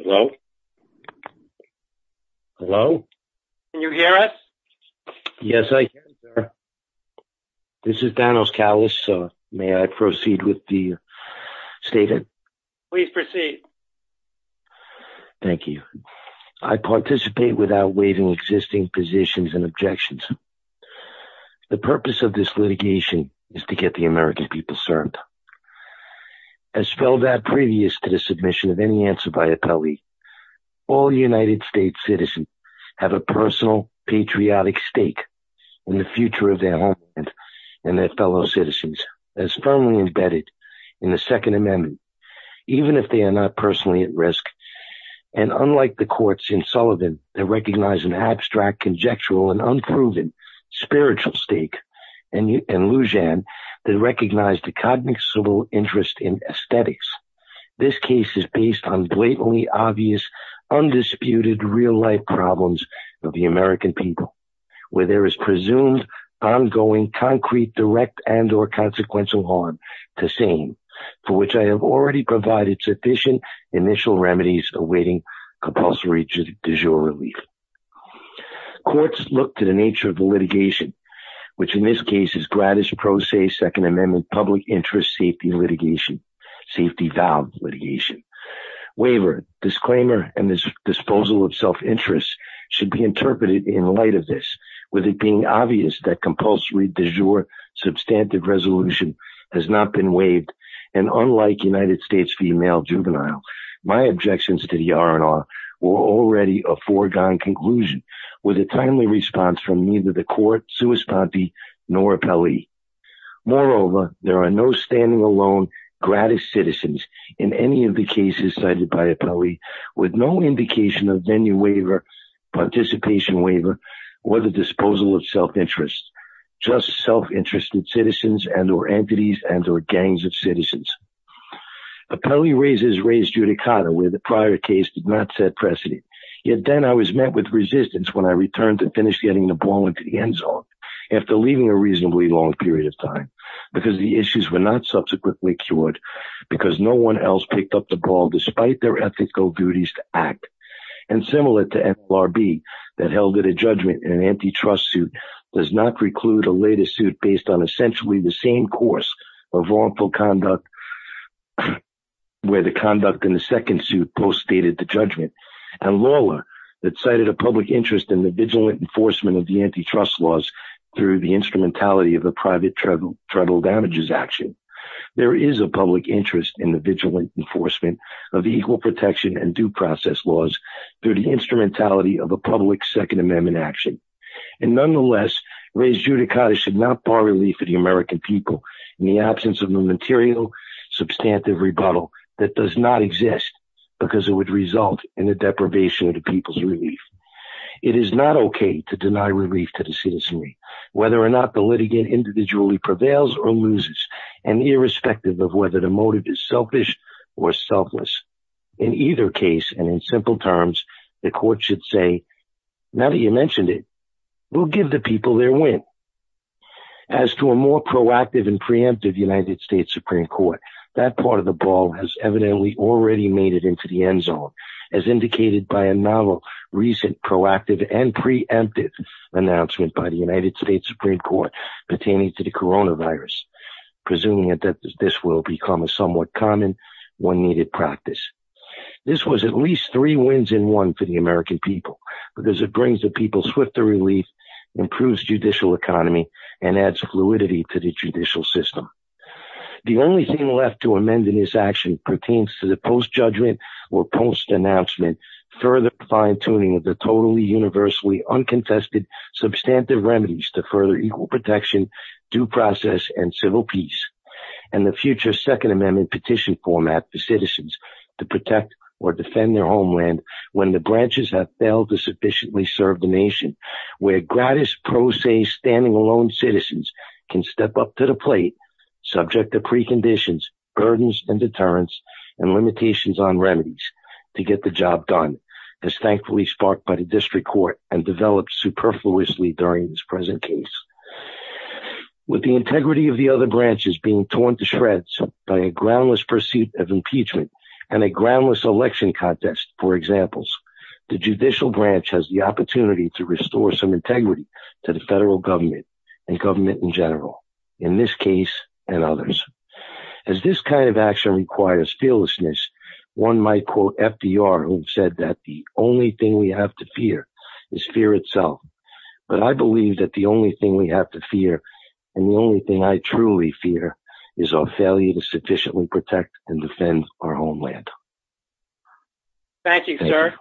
Hello. Hello. Can you hear us? Yes, I can, sir. This is Danos Kallas. May I proceed with the statement? Please proceed. Thank you. I participate without waiving existing positions and objections. The purpose of this litigation is to get the American people served. As spelled out previous to the submission of any answer by appellee, all United States citizens have a personal patriotic stake in the future of their homeland and their fellow citizens as firmly embedded in the Second Amendment, even if they are not personally at risk. And unlike the courts in Sullivan that recognize an abstract, conjectural, and unproven spiritual stake, and Lujan that recognized a cognizant interest in aesthetics, this case is based on blatantly obvious, undisputed real-life problems of the American people, where there is presumed ongoing concrete, direct, and or consequential harm to sane, for which I have already provided sufficient initial remedies awaiting compulsory du jour relief. Courts look to the nature of the litigation, which in this case is gratis, pro se, Second Amendment, public interest safety litigation, safety valve litigation. Waiver, disclaimer, and this disposal of self-interest should be interpreted in light of this, with it being obvious that compulsory du jour substantive resolution has not been waived. And unlike United States Female Juvenile, my objections to the R&R were already a foregone conclusion with a timely response from neither the court, sui sponte, nor appellee. Moreover, there are no standing alone gratis citizens in any of the cases cited by appellee with no indication of venue waiver, participation waiver, or the disposal of self-interest, just self-interested citizens and or entities and or gangs of citizens. Appellee raises raised judicata, where the prior case did not set precedent, yet then I was met with resistance when I returned to finish getting the ball into the end zone, after leaving a reasonably long period of time, because the issues were not subsequently cured, because no one else picked up the ball despite their ethical duties to act, and similar to FLRB that held it a judgment in an antitrust suit does not preclude a later suit based on essentially the same course of wrongful conduct where the conduct in the second suit post-stated the judgment, and LAWLA that cited a public interest in the vigilant enforcement of the antitrust laws through the instrumentality of the private tribal damages action, there is a public interest in the vigilant enforcement of equal protection and due process laws through the instrumentality of a public Second Amendment action, and nonetheless raised judicata should not bar relief for the American people in the absence of the material substantive rebuttal that does not exist because it would result in the deprivation of the people's relief. It is not okay to deny relief to the citizenry, whether or not the litigant individually prevails or loses, and irrespective of whether the motive is selfish or selfless. In either case, and in simple terms, the court should say, now that you mentioned it, we'll give the people their win. As to a more proactive and preemptive United States Supreme Court, that part of the ball has evidently already made it into the end zone, as indicated by a novel recent proactive and preemptive announcement by the United States Supreme Court pertaining to coronavirus, presuming that this will become a somewhat common, when needed, practice. This was at least three wins in one for the American people because it brings the people swifter relief, improves judicial economy, and adds fluidity to the judicial system. The only thing left to amend in this action pertains to the post-judgment or post-announcement further fine-tuning of the universally unconfessed substantive remedies to further equal protection, due process, and civil peace, and the future second amendment petition format for citizens to protect or defend their homeland when the branches have failed to sufficiently serve the nation, where gratis pro se standing alone citizens can step up to the plate, subject to preconditions, burdens, and deterrence, and limitations on remedies to get the job done. This thankfully sparked by the district court and developed superfluously during this present case. With the integrity of the other branches being torn to shreds by a groundless pursuit of impeachment and a groundless election contest, for examples, the judicial branch has the opportunity to restore some integrity to the federal government and government in general, in this case and others. As this kind of action requires fearlessness, one might quote FDR who said that the only thing we have to fear is fear itself, but I believe that the only thing we have to fear and the only thing I truly fear is our failure to sufficiently protect and defend our homeland. Thank you, sir.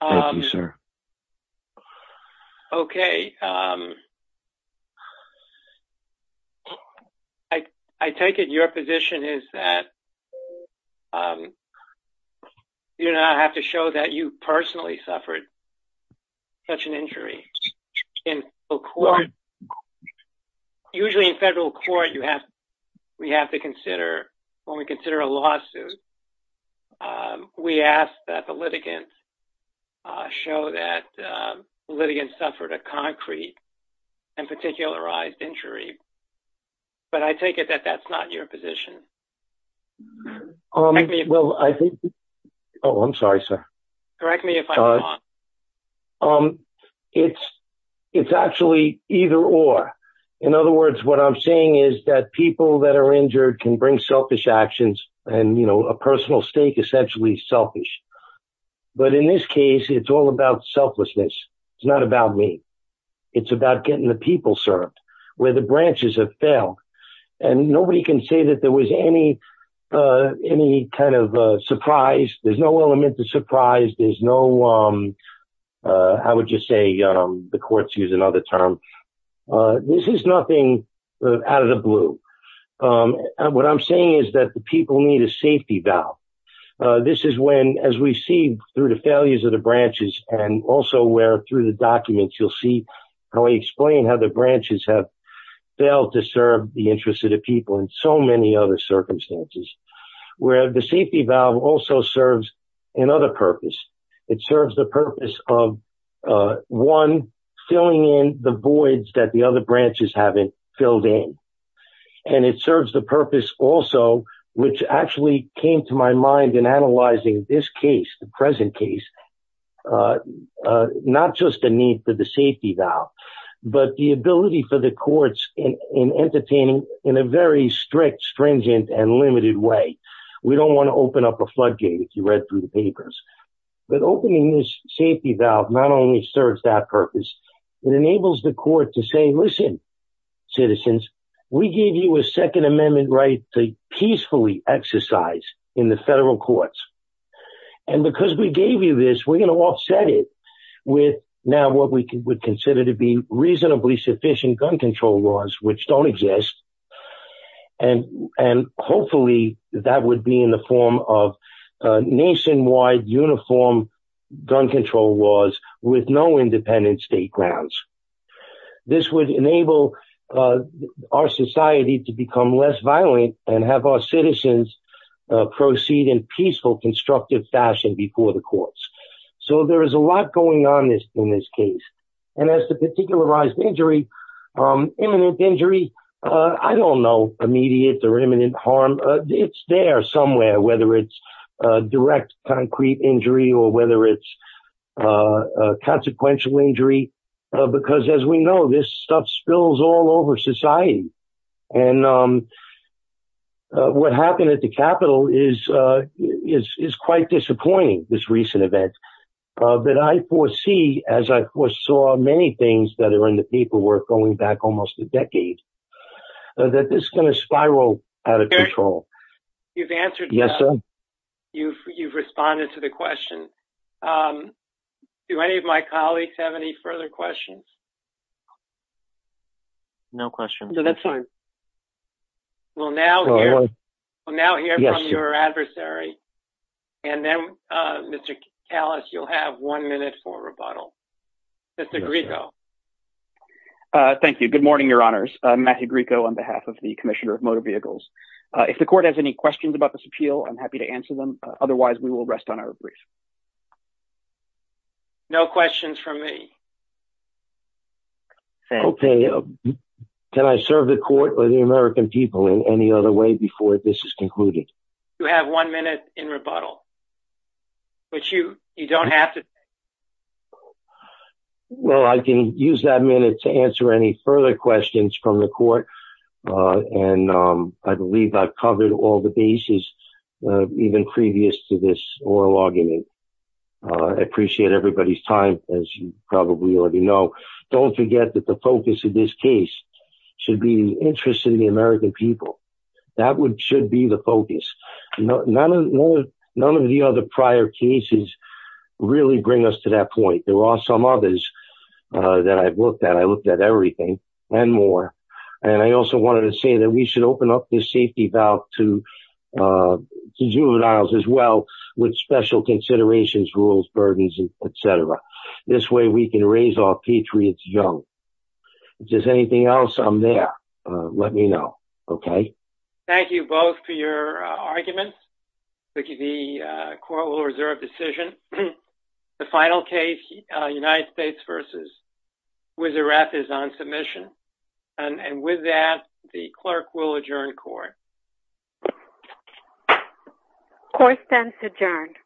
Thank you, sir. Okay. I take it your position is that you do not have to show that you personally suffered such an injury in the court. Usually in federal court, you have, we have to consider, when we consider a lawsuit, we ask that the litigants show that the litigants suffered a concrete and particularized injury, but I take it that that's not your position. Well, I think, oh, I'm sorry, sir. Correct me if I'm wrong. It's actually either or. In other words, what I'm saying is that people that are injured can bring selfish actions and, you know, a personal stake essentially selfish, but in this case, it's all about selflessness. It's not about me. It's about getting the people served where the branches have failed and nobody can say that there was any kind of surprise. There's no element of surprise. There's no, I would just say the courts use another term. This is nothing out of the blue. And what I'm saying is that the people need a safety valve. This is when, as we see through the failures of the branches and also where through the documents, you'll see how I explain how the branches have failed to serve the interests of the people in so many other circumstances, where the safety valve also serves another purpose. It serves the purpose of, one, filling in the voids that the other branches haven't filled in. And it serves the purpose also, which actually came to my mind in analyzing this case, the present case, not just a need for the safety valve, but the ability for the courts in entertaining in a very strict, stringent and limited way. We don't want to open up a floodgate if you read through the documents. It enables the court to say, listen, citizens, we gave you a second amendment right to peacefully exercise in the federal courts. And because we gave you this, we're going to offset it with now what we would consider to be reasonably sufficient gun control laws, which don't exist. And hopefully that would be in the form of nationwide uniform gun control laws with no independent state grounds. This would enable our society to become less violent and have our citizens proceed in peaceful, constructive fashion before the courts. So there is a lot going on in this case. And as to particularized injury, imminent injury, I don't know immediate or imminent harm. It's there somewhere, whether it's direct concrete injury or whether it's consequential injury, because as we know, this stuff spills all over society. And what happened at the Capitol is quite disappointing, this recent event. But I foresee, as I saw many things that are in the paperwork going back almost a decade, that this is going to spiral out of control. You've answered. Yes, sir. You've responded to the question. Do any of my colleagues have any further questions? No questions. No, that's fine. We'll now hear from your adversary. And then, Mr. Kalas, you'll have one minute for rebuttal. Mr. Grieco. Thank you. Good morning, Your Honors. Matthew Grieco on behalf of the Commissioner of Justice. I'm happy to answer any questions about this appeal. I'm happy to answer them. Otherwise, we will rest on our brief. No questions from me. Okay. Can I serve the court or the American people in any other way before this is concluded? You have one minute in rebuttal, but you don't have to. Well, I can use that minute to answer any further questions from the court. And I believe I've covered all the bases even previous to this oral argument. I appreciate everybody's time, as you probably already know. Don't forget that the focus of this case should be the interest of the American people. That should be the focus. None of the other prior cases really bring us to that point. There are some others that I've looked at. I also wanted to say that we should open up the safety valve to juveniles as well, with special considerations, rules, burdens, etc. This way we can raise our patriots young. If there's anything else, I'm there. Let me know. Okay. Thank you both for your arguments. The court will reserve decision. The final case, United States v. Wizaref, is on submission. And with that, the clerk will adjourn court. Court stands adjourned.